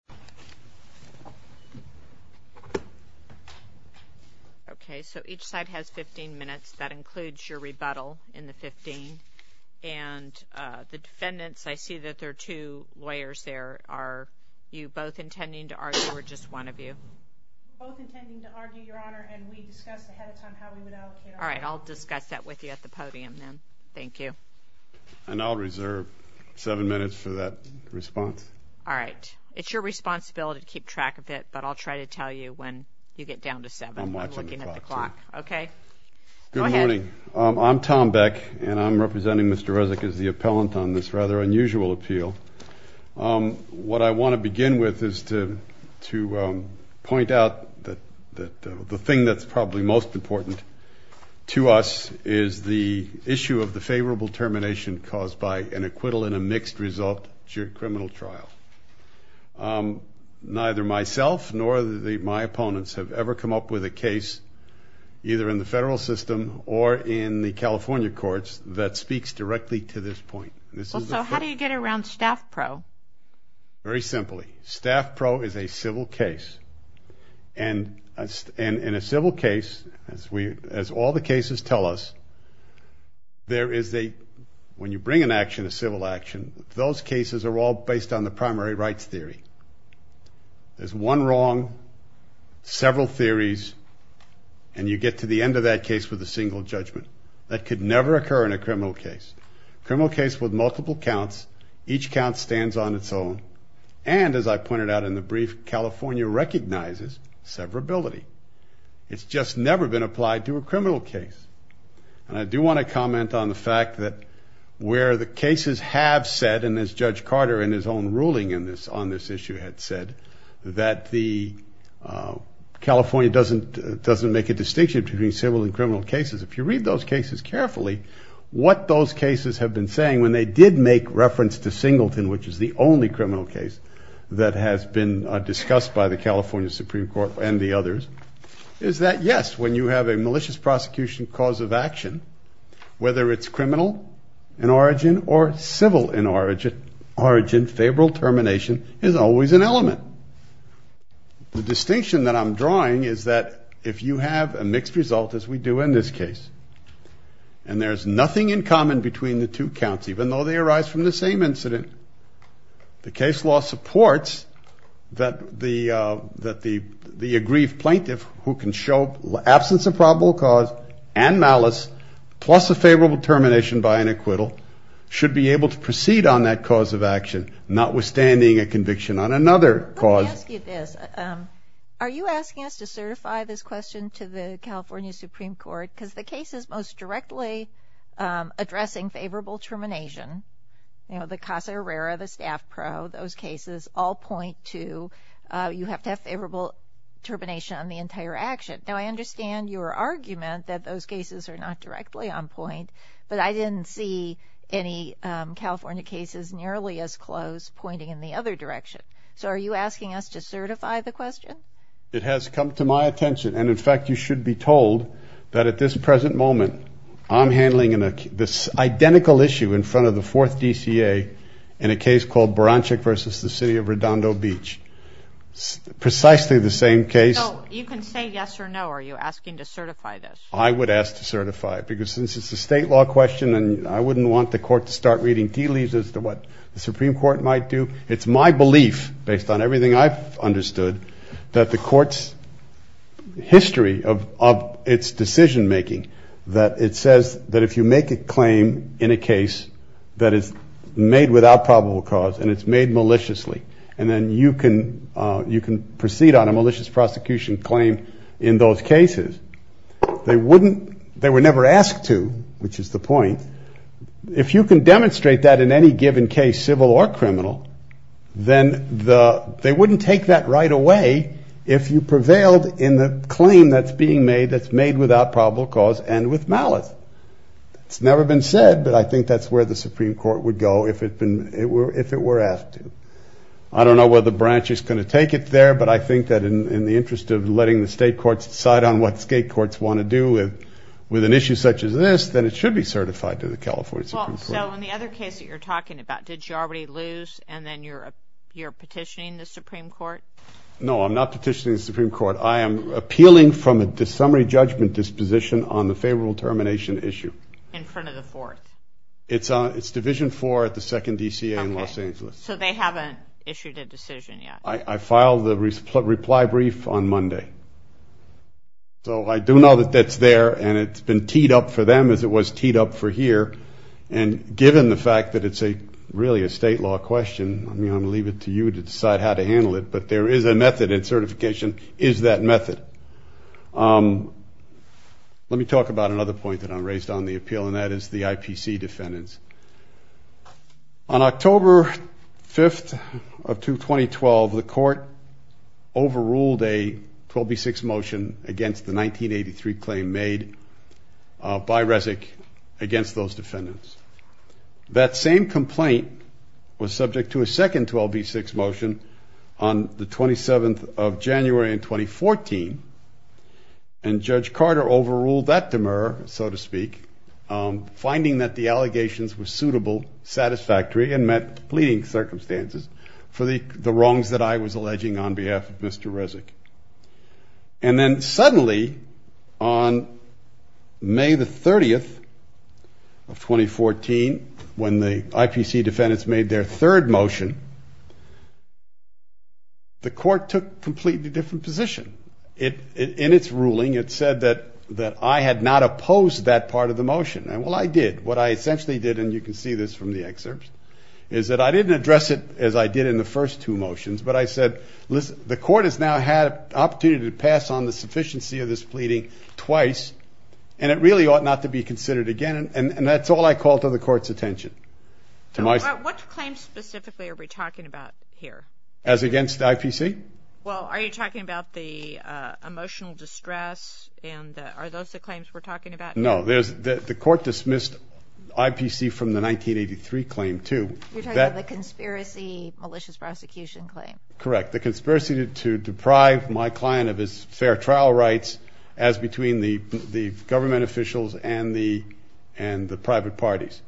The defendants argue that there are two lawyers at the podium, are you both intending to argue or just one of you? Both intending to argue, Your Honor, and we discussed ahead of time how we would allocate our time. All right, I'll discuss that with you at the podium then. Thank you. And I'll reserve seven minutes for that response. All right. It's your responsibility to keep track of it, but I'll try to tell you when you get down to seven. I'm watching the clock. I'm looking at the clock. Okay. Go ahead. Good morning. I'm Tom Beck and I'm representing Mr. Rezek as the appellant on this rather unusual appeal. What I want to begin with is to point out that the thing that's probably most important to us is the issue of the favorable termination caused by an acquittal in a mixed result juried criminal trial. Neither myself nor my opponents have ever come up with a case, either in the federal system or in the California courts, that speaks directly to this point. So how do you get around Staff Pro? Very simply. Staff Pro is a civil case. And in a civil case, as all the cases tell us, when you bring an action, a civil action, those cases are all based on the primary rights theory. There's one wrong, several theories, and you get to the end of that case with a single judgment. That could never occur in a criminal case. A criminal case with multiple counts, each count stands on its own. And as I pointed out in the brief, California recognizes severability. It's just never been applied to a criminal case. And I do want to comment on the fact that where the cases have said, and as Judge Carter in his own ruling on this issue had said, that California doesn't make a distinction between civil and criminal cases. If you read those cases carefully, what those cases have been saying, when they did make reference to Singleton, which is the only criminal case that has been discussed by the California Supreme Court and the others, is that yes, when you have a malicious prosecution cause of action, whether it's criminal in origin or civil in origin, favorable termination is always an element. The distinction that I'm drawing is that if you have a mixed result, as we do in this case, and there's nothing in common between the two counts, even though they arise from the same incident, the case law supports that the aggrieved plaintiff who can show absence of probable cause and malice plus a favorable termination by an acquittal should be able to proceed on that cause of action, notwithstanding a conviction on another cause. Let me ask you this. Are you asking us to certify this question to the California Supreme Court? Because the cases most directly addressing favorable termination, you know, the Casa Herrera, the Staff Pro, those cases, all point to you have to have favorable termination on the entire action. Now, I understand your argument that those cases are not directly on point, but I didn't see any California cases nearly as close pointing in the other direction. So are you asking us to certify the question? It has come to my attention, and in fact you should be told that at this present moment I'm handling this identical issue in front of the fourth DCA in a case called Baranchik v. The City of Redondo Beach. Precisely the same case. So you can say yes or no. Are you asking to certify this? I would ask to certify it, because since it's a state law question and I wouldn't want the court to start reading tea leaves as to what the Supreme Court might do. It's my belief, based on everything I've understood, that the court's history of its decision-making, that it says that if you make a claim in a case that is made without probable cause and it's made maliciously, and then you can proceed on a malicious prosecution claim in those cases, they would never ask to, which is the point. If you can demonstrate that in any given case, civil or criminal, then they wouldn't take that right away if you prevailed in the claim that's being made that's made without probable cause and with malice. It's never been said, but I think that's where the Supreme Court would go if it were asked to. I don't know whether Baranchik is going to take it there, but I think that in the interest of letting the state courts decide on what state courts want to do with an issue such as this, then it should be certified to the California Supreme Court. Well, so in the other case that you're talking about, did you already lose, and then you're petitioning the Supreme Court? No, I'm not petitioning the Supreme Court. I am appealing from a summary judgment disposition on the favorable termination issue. In front of the fourth? It's Division IV at the 2nd DCA in Los Angeles. Okay, so they haven't issued a decision yet. I filed the reply brief on Monday. So I do know that that's there, and it's been teed up for them as it was teed up for here, and given the fact that it's really a state law question, I'm going to leave it to you to decide how to handle it, but there is a method and certification is that method. Let me talk about another point that I raised on the appeal, and that is the IPC defendants. On October 5th of 2012, the court overruled a 12B6 motion against the 1983 claim made by RESC against those defendants. That same complaint was subject to a second 12B6 motion on the 27th of January in 2014, and Judge Carter overruled that demur, so to speak, finding that the allegations were suitable, satisfactory, and met the pleading circumstances for the wrongs that I was alleging on behalf of Mr. RESC. And then suddenly on May the 30th of 2014, when the IPC defendants made their third motion, the court took a completely different position. In its ruling, it said that I had not opposed that part of the motion. Well, I did. What I essentially did, and you can see this from the excerpts, is that I didn't address it as I did in the first two motions, but I said the court has now had an opportunity to pass on the sufficiency of this pleading twice, and it really ought not to be considered again, and that's all I call to the court's attention. What claims specifically are we talking about here? As against the IPC? Well, are you talking about the emotional distress, and are those the claims we're talking about? No. The court dismissed IPC from the 1983 claim, too. You're talking about the conspiracy malicious prosecution claim. Correct. The conspiracy to deprive my client of his fair trial rights, as between the government officials and the private parties.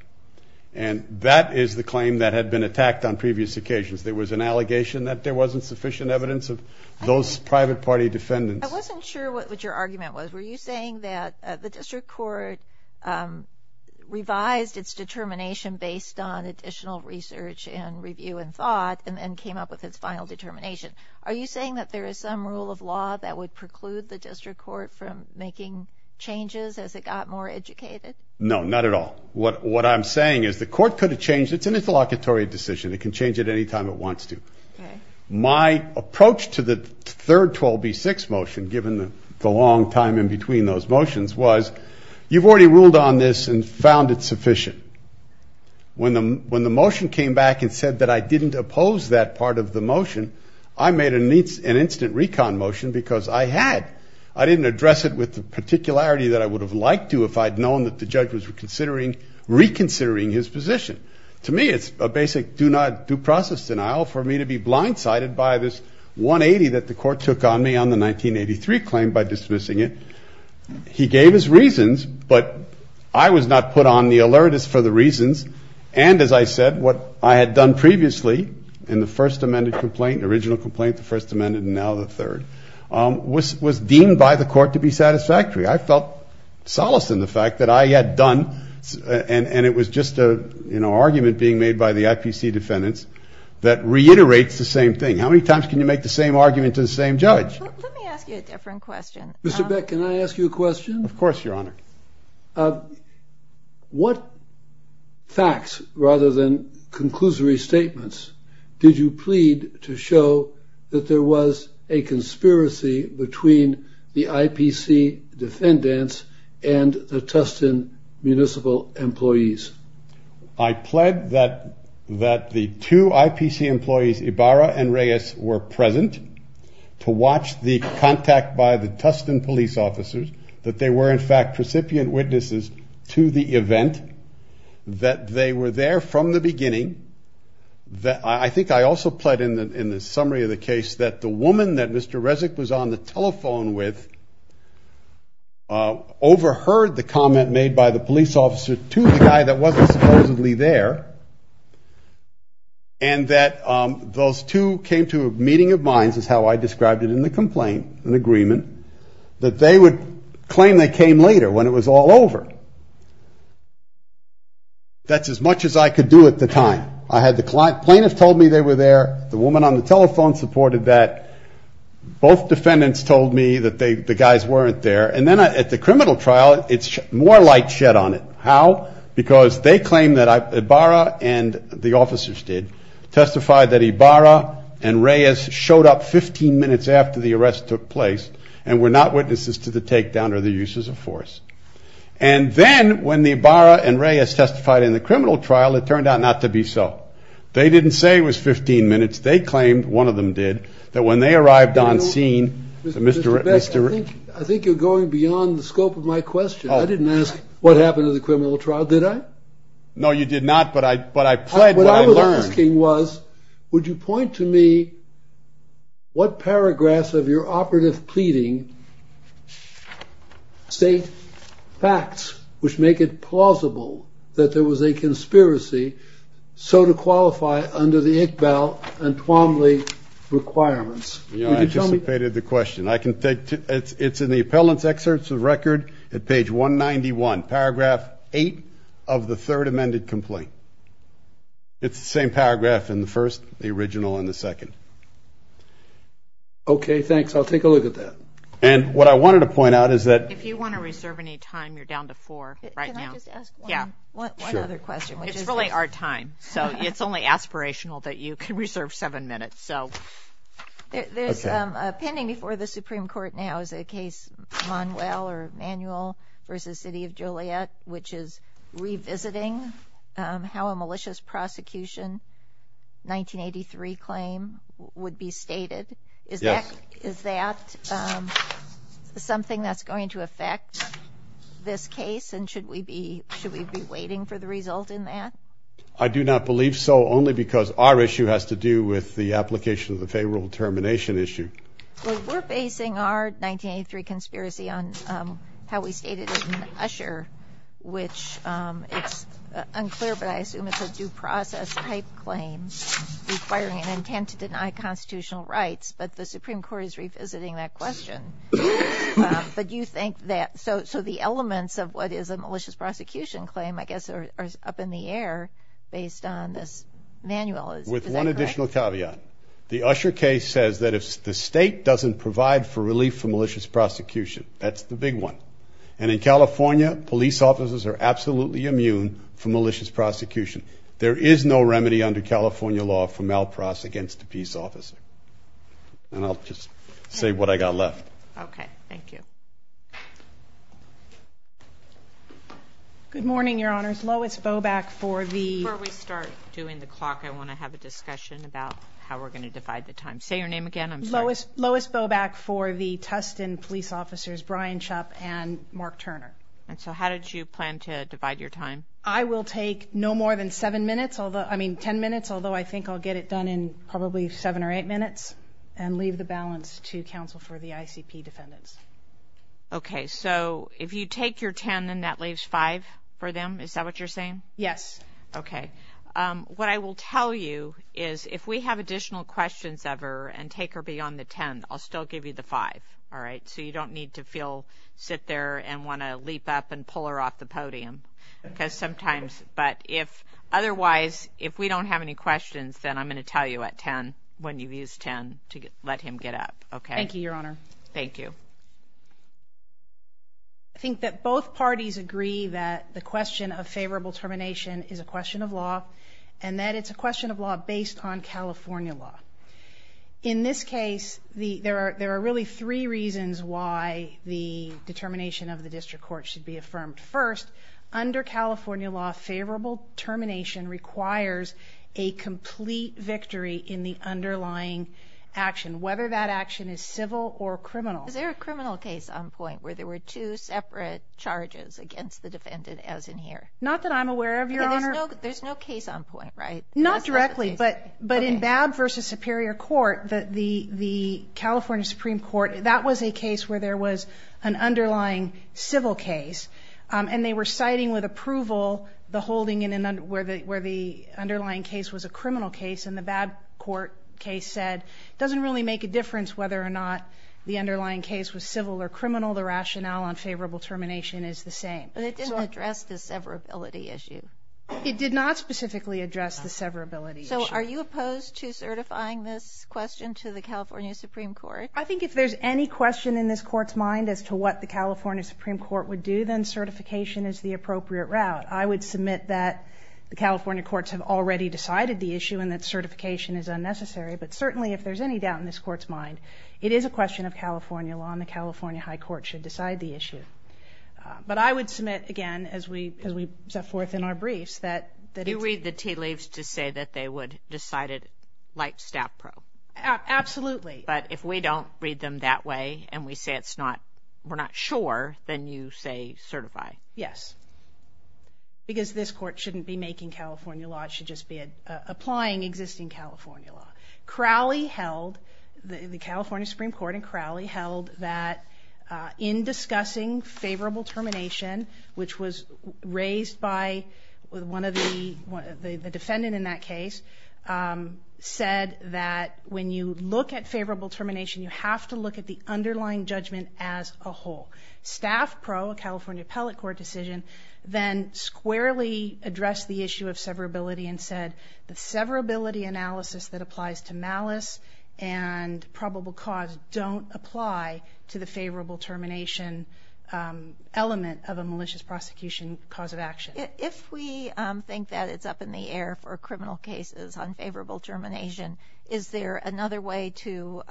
And that is the claim that had been attacked on previous occasions. There was an allegation that there wasn't sufficient evidence of those private party defendants. I wasn't sure what your argument was. Were you saying that the district court revised its determination based on additional research and review and thought, and then came up with its final determination? Are you saying that there is some rule of law that would preclude the district court from making changes as it got more educated? No, not at all. What I'm saying is the court could have changed it. It's an interlocutory decision. It can change it any time it wants to. My approach to the third 12B6 motion, given the long time in between those motions, was you've already ruled on this and found it sufficient. When the motion came back and said that I didn't oppose that part of the motion, I made an instant recon motion because I had. I didn't address it with the particularity that I would have liked to if I had known that the judge was reconsidering his position. To me, it's a basic due process denial for me to be blindsided by this 180 that the court took on me on the 1983 claim by dismissing it. He gave his reasons, but I was not put on the alert as for the reasons. And, as I said, what I had done previously in the first amended complaint, the original complaint, the first amended, and now the third, was deemed by the court to be satisfactory. I felt solace in the fact that I had done, and it was just an argument being made by the IPC defendants, that reiterates the same thing. How many times can you make the same argument to the same judge? Let me ask you a different question. Mr. Beck, can I ask you a question? Of course, Your Honor. What facts, rather than conclusory statements, did you plead to show that there was a conspiracy between the IPC defendants and the Tustin municipal employees? I pled that the two IPC employees, Ibarra and Reyes, were present to watch the contact by the Tustin police officers, that they were, in fact, recipient witnesses to the event, that they were there from the beginning. I think I also pled in the summary of the case that the woman that Mr. Resnick was on the telephone with overheard the comment made by the police officer to the guy that wasn't supposedly there, and that those two came to a meeting of minds, as how I described it in the complaint, an agreement, that they would claim they came later when it was all over. That's as much as I could do at the time. I had the plaintiff told me they were there. The woman on the telephone supported that. Both defendants told me that the guys weren't there. And then at the criminal trial, it's more light shed on it. How? Because they claim that Ibarra and the officers did testify that Ibarra and Reyes showed up 15 minutes after the arrest took place, and were not witnesses to the takedown or the uses of force. And then when the Ibarra and Reyes testified in the criminal trial, it turned out not to be so. They didn't say it was 15 minutes. They claimed, one of them did, that when they arrived on scene, Mr. Resnick. I think you're going beyond the scope of my question. I didn't ask what happened in the criminal trial, did I? No, you did not, but I pled what I learned. Would you point to me what paragraphs of your operative pleading state facts which make it plausible that there was a conspiracy, so to qualify under the Iqbal and Twombly requirements? I anticipated the question. It's in the appellant's excerpts of the record at page 191, paragraph 8 of the third amended complaint. It's the same paragraph in the first, the original, and the second. Okay, thanks. I'll take a look at that. And what I wanted to point out is that. If you want to reserve any time, you're down to four right now. Can I just ask one other question? It's really our time, so it's only aspirational that you can reserve seven minutes. There's a pending before the Supreme Court now is a case, Manuel v. City of Juliet, which is revisiting how a malicious prosecution, 1983 claim, would be stated. Yes. Is that something that's going to affect this case, and should we be waiting for the result in that? I do not believe so, only because our issue has to do with the application of the favorable termination issue. Well, we're basing our 1983 conspiracy on how we stated it in Usher, which it's unclear, but I assume it's a due process type claim requiring an intent to deny constitutional rights, but the Supreme Court is revisiting that question. But do you think that, so the elements of what is a malicious prosecution claim, I guess, are up in the air based on this manual. Is that correct? With one additional caveat. The Usher case says that if the state doesn't provide for relief for malicious prosecution, that's the big one. And in California, police officers are absolutely immune from malicious prosecution. There is no remedy under California law for malprause against a peace officer. And I'll just say what I got left. Okay. Thank you. Good morning, Your Honors. Lois Boback for the... Before we start doing the clock, I want to have a discussion about how we're going to divide the time. Say your name again. I'm sorry. Lois Boback for the Tustin police officers, Brian Chupp and Mark Turner. And so how did you plan to divide your time? I will take no more than seven minutes, although, I mean, ten minutes, although I think I'll get it done in probably seven or eight minutes and leave the balance to counsel for the ICP defendants. Okay. So if you take your ten and that leaves five for them, is that what you're saying? Yes. Okay. What I will tell you is if we have additional questions ever and take her beyond the ten, I'll still give you the five, all right? So you don't need to feel, sit there and want to leap up and pull her off the podium because sometimes... But if otherwise, if we don't have any questions, then I'm going to tell you at ten when you've used ten to let him get up. Okay. Thank you, Your Honor. Thank you. I think that both parties agree that the question of favorable termination is a question of law and that it's a question of law based on California law. In this case, there are really three reasons why the determination of the district court should be affirmed. First, under California law, favorable termination requires a complete victory in the underlying action, whether that action is civil or criminal. Is there a criminal case on point where there were two separate charges against the defendant as in here? Not that I'm aware of, Your Honor. There's no case on point, right? Not directly, but in Babb v. Superior Court, the California Supreme Court, that was a case where there was an underlying civil case, and they were citing with approval the holding where the underlying case was a criminal case, and the Babb court case said, it doesn't really make a difference whether or not the underlying case was civil or criminal. The rationale on favorable termination is the same. But it didn't address the severability issue. It did not specifically address the severability issue. So are you opposed to certifying this question to the California Supreme Court? I think if there's any question in this Court's mind as to what the California Supreme Court would do, then certification is the appropriate route. I would submit that the California courts have already decided the issue and that certification is unnecessary, but certainly if there's any doubt in this Court's mind, it is a question of California law, and the California High Court should decide the issue. But I would submit, again, as we set forth in our briefs, that it's... You read the tea leaves to say that they would decide it like staff pro. Absolutely. But if we don't read them that way and we say it's not, we're not sure, then you say certify. Yes. Because this Court shouldn't be making California law. It should just be applying existing California law. Crowley held, the California Supreme Court and Crowley held, that in discussing favorable termination, which was raised by one of the defendants in that case, said that when you look at favorable termination, you have to look at the underlying judgment as a whole. Staff pro, a California appellate court decision, then squarely addressed the issue of severability and said the severability analysis that applies to malice and probable cause don't apply to the favorable termination element of a malicious prosecution cause of action. If we think that it's up in the air for criminal cases on favorable termination, is there another way to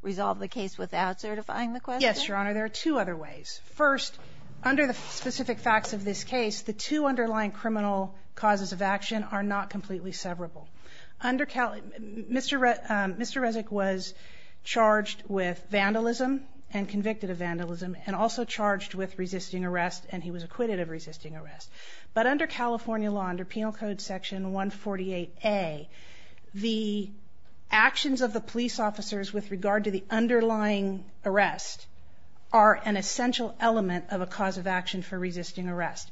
resolve the case without certifying the question? Yes, Your Honor. There are two other ways. First, under the specific facts of this case, the two underlying criminal causes of action are not completely severable. Mr. Resnick was charged with vandalism and convicted of vandalism and also charged with resisting arrest and he was acquitted of resisting arrest. But under California law, under Penal Code Section 148A, the actions of the police officers with regard to the underlying arrest are an essential element of a cause of action for resisting arrest.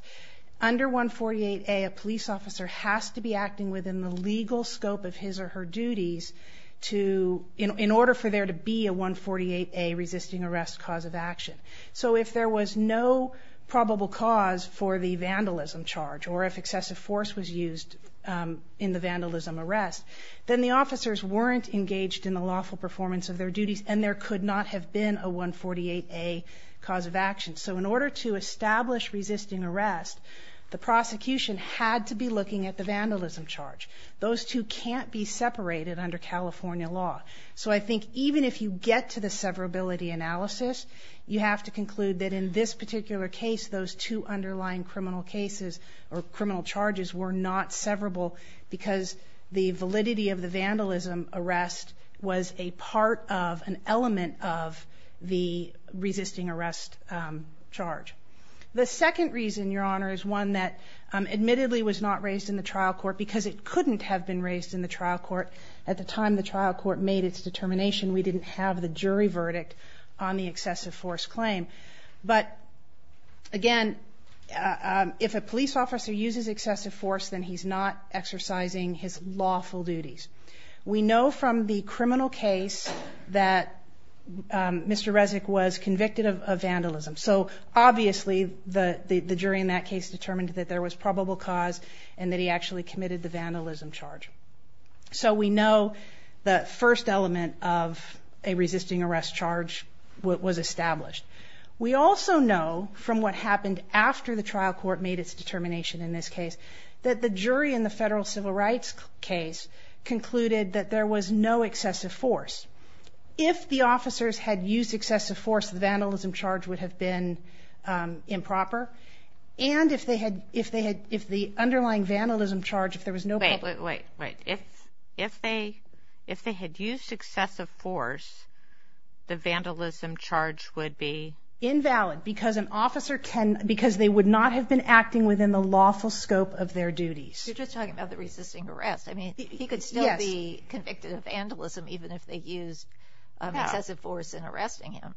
Under 148A, a police officer has to be acting within the legal scope of his or her duties in order for there to be a 148A resisting arrest cause of action. So if there was no probable cause for the vandalism charge or if excessive force was used in the vandalism arrest, then the officers weren't engaged in the lawful performance of their duties and there could not have been a 148A cause of action. So in order to establish resisting arrest, the prosecution had to be looking at the vandalism charge. Those two can't be separated under California law. So I think even if you get to the severability analysis, you have to conclude that in this particular case, those two underlying criminal cases or criminal charges were not severable because the validity of the vandalism arrest was a part of, an element of the resisting arrest charge. The second reason, Your Honor, is one that admittedly was not raised in the trial court because it couldn't have been raised in the trial court. At the time the trial court made its determination, we didn't have the jury verdict on the excessive force claim. But again, if a police officer uses excessive force, then he's not exercising his lawful duties. We know from the criminal case that Mr. Resnick was convicted of vandalism. So obviously the jury in that case determined that there was probable cause and that he actually committed the vandalism charge. So we know the first element of a resisting arrest charge was established. We also know from what happened after the trial court made its determination in this case that the jury in the federal civil rights case concluded that there was no excessive force. If the officers had used excessive force, the vandalism charge would have been improper. And if they had, if the underlying vandalism charge, if there was no Wait, wait, wait. If they had used excessive force, the vandalism charge would be? Invalid because an officer can, because they would not have been acting within the lawful scope of their duties. You're just talking about the resisting arrest. I mean, he could still be convicted of vandalism even if they use excessive force in arresting him.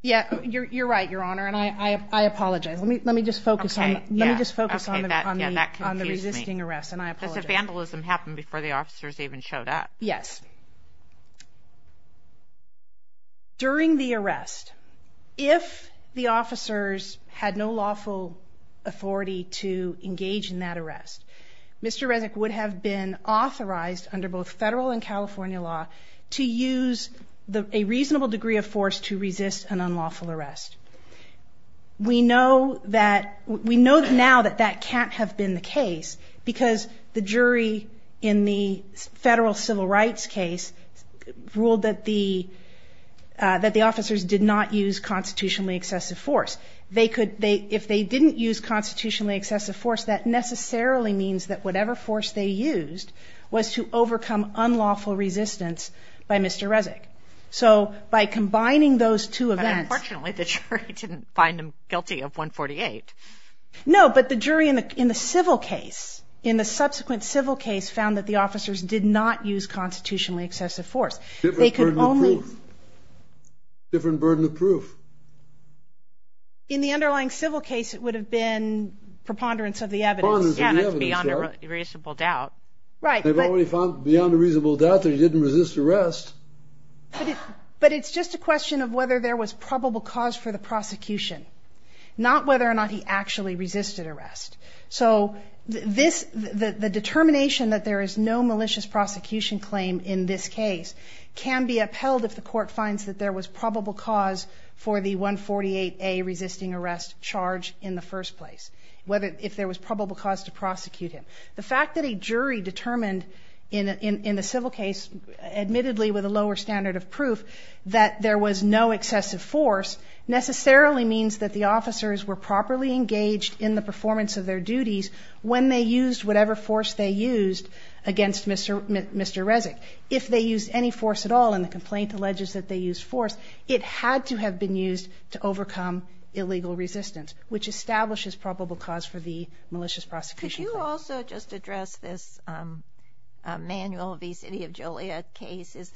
Yeah, you're right, Your Honor, and I apologize. Let me just focus on the resisting arrest, and I apologize. Does the vandalism happen before the officers even showed up? Yes. During the arrest, if the officers had no lawful authority to engage in that arrest, Mr. Resnick would have been authorized under both federal and California law to use a reasonable degree of force to resist an unlawful arrest. We know that, we know now that that can't have been the case because the jury in the federal civil rights case ruled that the officers did not use constitutionally excessive force. They could, if they didn't use constitutionally excessive force, that necessarily means that whatever force they used was to overcome unlawful resistance by Mr. Resnick. So by combining those two events... But unfortunately, the jury didn't find him guilty of 148. No, but the jury in the civil case, in the subsequent civil case, found that the officers did not use constitutionally excessive force. Different burden of proof. In the underlying civil case, it would have been preponderance of the evidence. Yeah, that's beyond a reasonable doubt. They've already found beyond a reasonable doubt that he didn't resist arrest. But it's just a question of whether there was probable cause for the prosecution, not whether or not he actually resisted arrest. So the determination that there is no malicious prosecution claim in this case can be upheld if the court finds that there was probable cause for the 148A resisting arrest charge in the first place, if there was probable cause to prosecute him. The fact that a jury determined in the civil case, admittedly with a lower standard of proof, that there was no excessive force necessarily means that the officers were properly engaged in the performance of their duties when they used whatever force they used against Mr. Resnick. If they used any force at all, and the complaint alleges that they used force, it had to have been used to overcome illegal resistance, which establishes probable cause for the malicious prosecution claim. Could you also just address this Manuel v. City of Joliet case? Does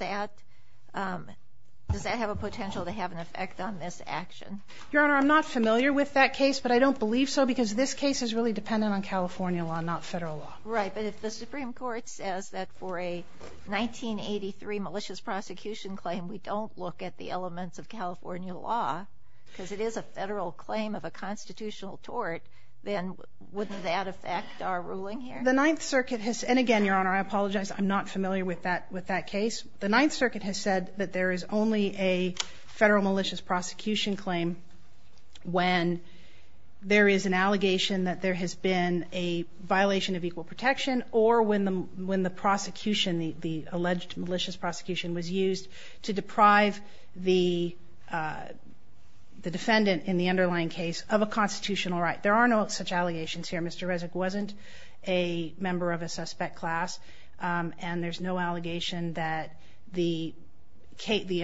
that have a potential to have an effect on this action? Your Honor, I'm not familiar with that case, but I don't believe so because this case is really dependent on California law, not federal law. Right, but if the Supreme Court says that for a 1983 malicious prosecution claim we don't look at the elements of California law, because it is a federal claim of a constitutional tort, then wouldn't that affect our ruling here? The Ninth Circuit has, and again, Your Honor, I apologize. I'm not familiar with that case. The Ninth Circuit has said that there is only a federal malicious prosecution claim when there is an allegation that there has been a violation of equal protection or when the prosecution, the alleged malicious prosecution, was used to deprive the defendant in the underlying case of a constitutional right. There are no such allegations here. Mr. Rezek wasn't a member of a suspect class, and there's no allegation that the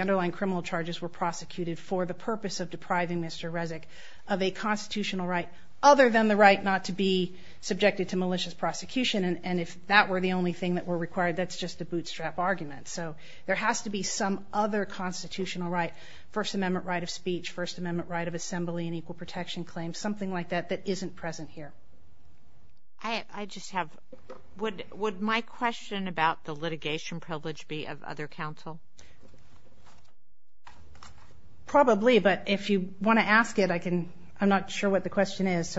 underlying criminal charges were prosecuted for the purpose of depriving Mr. Rezek of a constitutional right other than the right not to be subjected to malicious prosecution, and if that were the only thing that were required, that's just a bootstrap argument. So there has to be some other constitutional right, First Amendment right of speech, First Amendment right of assembly, an equal protection claim, something like that that isn't present here. I just have, would my question about the litigation privilege be of other counsel? Probably, but if you want to ask it, I'm not sure what the question is.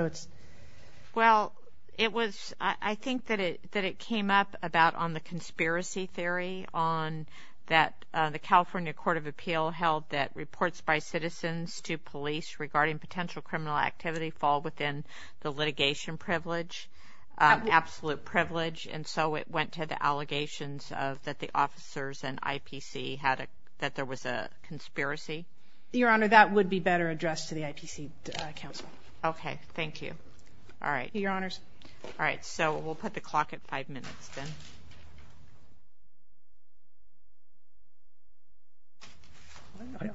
Well, it was, I think that it came up about on the conspiracy theory on that the California Court of Appeal held that reports by citizens to police regarding potential criminal activity fall within the litigation privilege, absolute privilege, and so it went to the allegations that the officers in IPC had, that there was a conspiracy. Your Honor, that would be better addressed to the IPC counsel. Okay, thank you. All right. Your Honors. All right, so we'll put the clock at five minutes then.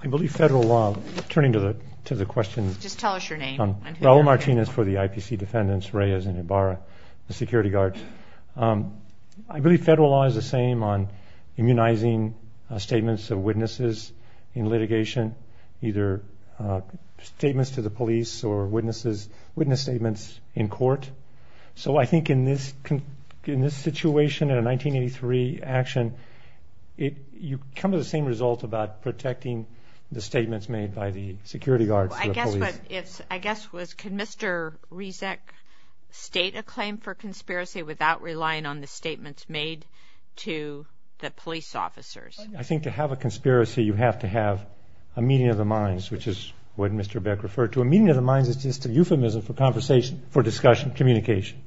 I believe federal law, turning to the question. Just tell us your name. Raul Martinez for the IPC defendants, Reyes and Ibarra, the security guard. I believe federal law is the same on immunizing statements of witnesses in litigation, either statements to the police or witness statements in court. So I think in this situation, in a 1983 action, you come to the same result about protecting the statements made by the security guard. I guess what, can Mr. Rezek state a claim for conspiracy without relying on the statements made to the police officers? I think to have a conspiracy, you have to have a meeting of the minds, which is what Mr. Beck referred to. A meeting of the minds is just a euphemism for conversation, for discussion, communication.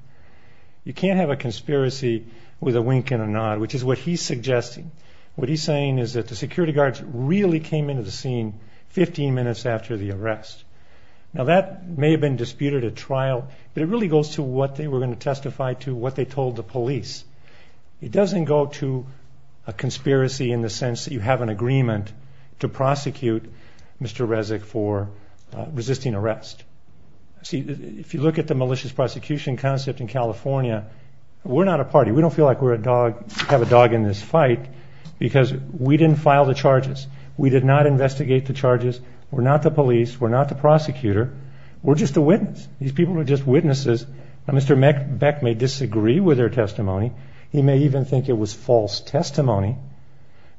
You can't have a conspiracy with a wink and a nod, which is what he's suggesting. What he's saying is that the security guards really came into the scene 15 minutes after the arrest. Now, that may have been disputed at trial, but it really goes to what they were going to testify to, what they told the police. It doesn't go to a conspiracy in the sense that you have an agreement to prosecute Mr. Rezek for resisting arrest. See, if you look at the malicious prosecution concept in California, we're not a party. We don't feel like we have a dog in this fight because we didn't file the charges. We did not investigate the charges. We're not the police. We're not the prosecutor. We're just the witness. These people are just witnesses. Now, Mr. Beck may disagree with their testimony. He may even think it was false testimony,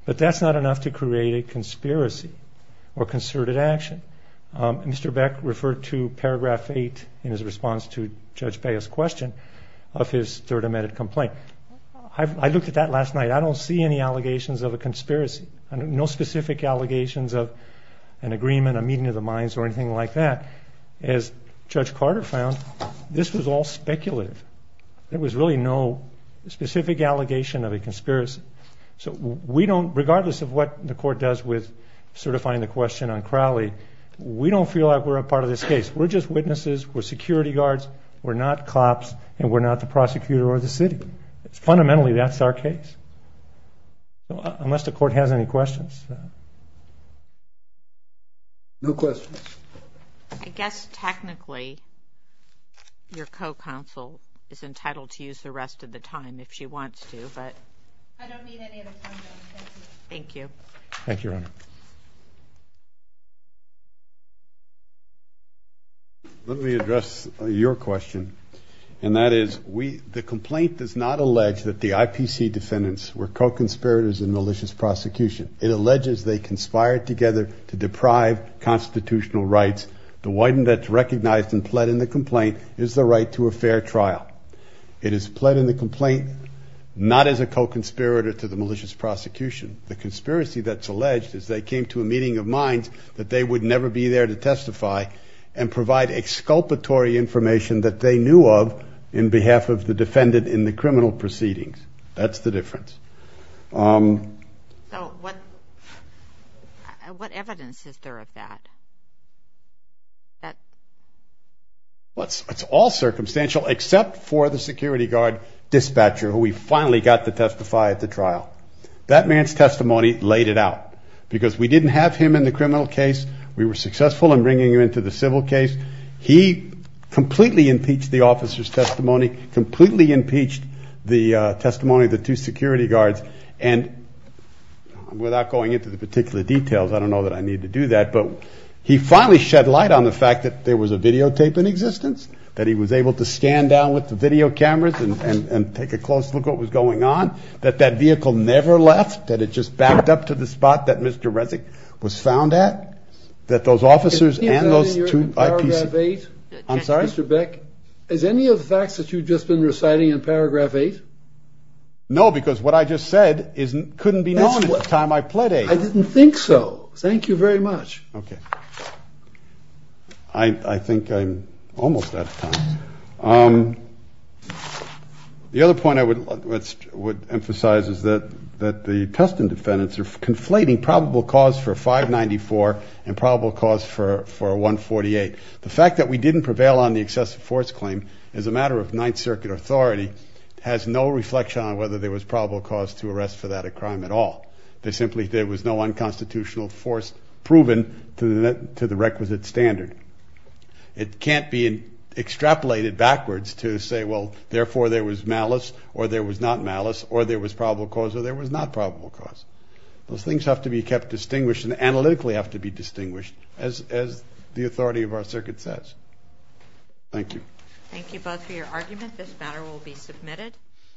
but that's not enough to create a conspiracy or concerted action. Mr. Beck referred to Paragraph 8 in his response to Judge Baez's question of his third amended complaint. I looked at that last night. I don't see any allegations of a conspiracy, no specific allegations of an agreement, a meeting of the minds or anything like that. As Judge Carter found, this was all speculative. There was really no specific allegation of a conspiracy. Regardless of what the court does with certifying the question on Crowley, we don't feel like we're a part of this case. We're just witnesses. We're security guards. We're not cops, and we're not the prosecutor or the city. Fundamentally, that's our case, unless the court has any questions. No questions. I guess technically your co-counsel is entitled to use the rest of the time if she wants to. I don't need any of the time, though. Thank you. Thank you, Your Honor. Let me address your question, and that is, the complaint does not allege that the IPC defendants were co-conspirators in malicious prosecution. It alleges they conspired together to deprive constitutional rights. The witness that's recognized and pled in the complaint is the right to a fair trial. It is pled in the complaint not as a co-conspirator to the malicious prosecution. The conspiracy that's alleged is they came to a meeting of minds that they would never be there to testify and provide exculpatory information that they knew of in behalf of the defendant in the criminal proceedings. That's the difference. So what evidence is there of that? Well, it's all circumstantial except for the security guard dispatcher, who we finally got to testify at the trial. That man's testimony laid it out because we didn't have him in the criminal case. We were successful in bringing him into the civil case. He completely impeached the officer's testimony, completely impeached the testimony of the two security guards. And without going into the particular details, I don't know that I need to do that, but he finally shed light on the fact that there was a videotape in existence, that he was able to scan down with the video cameras and take a close look at what was going on, that that vehicle never left, that it just backed up to the spot that Mr. Resnick was found at, that those officers and those two IPC. I'm sorry? Mr. Beck, is any of the facts that you've just been reciting in paragraph eight? No, because what I just said couldn't be known at the time I pled eight. I didn't think so. Thank you very much. Okay. I think I'm almost out of time. The other point I would emphasize is that the Tustin defendants are conflating probable cause for 594 and probable cause for 148. The fact that we didn't prevail on the excessive force claim as a matter of Ninth Circuit authority has no reflection on whether there was probable cause to arrest for that crime at all. There simply was no unconstitutional force proven to the requisite standard. It can't be extrapolated backwards to say, well, therefore there was malice or there was not malice or there was probable cause or there was not probable cause. Those things have to be kept distinguished and analytically have to be distinguished, as the authority of our circuit says. Thank you. Thank you both for your argument. This matter will be submitted.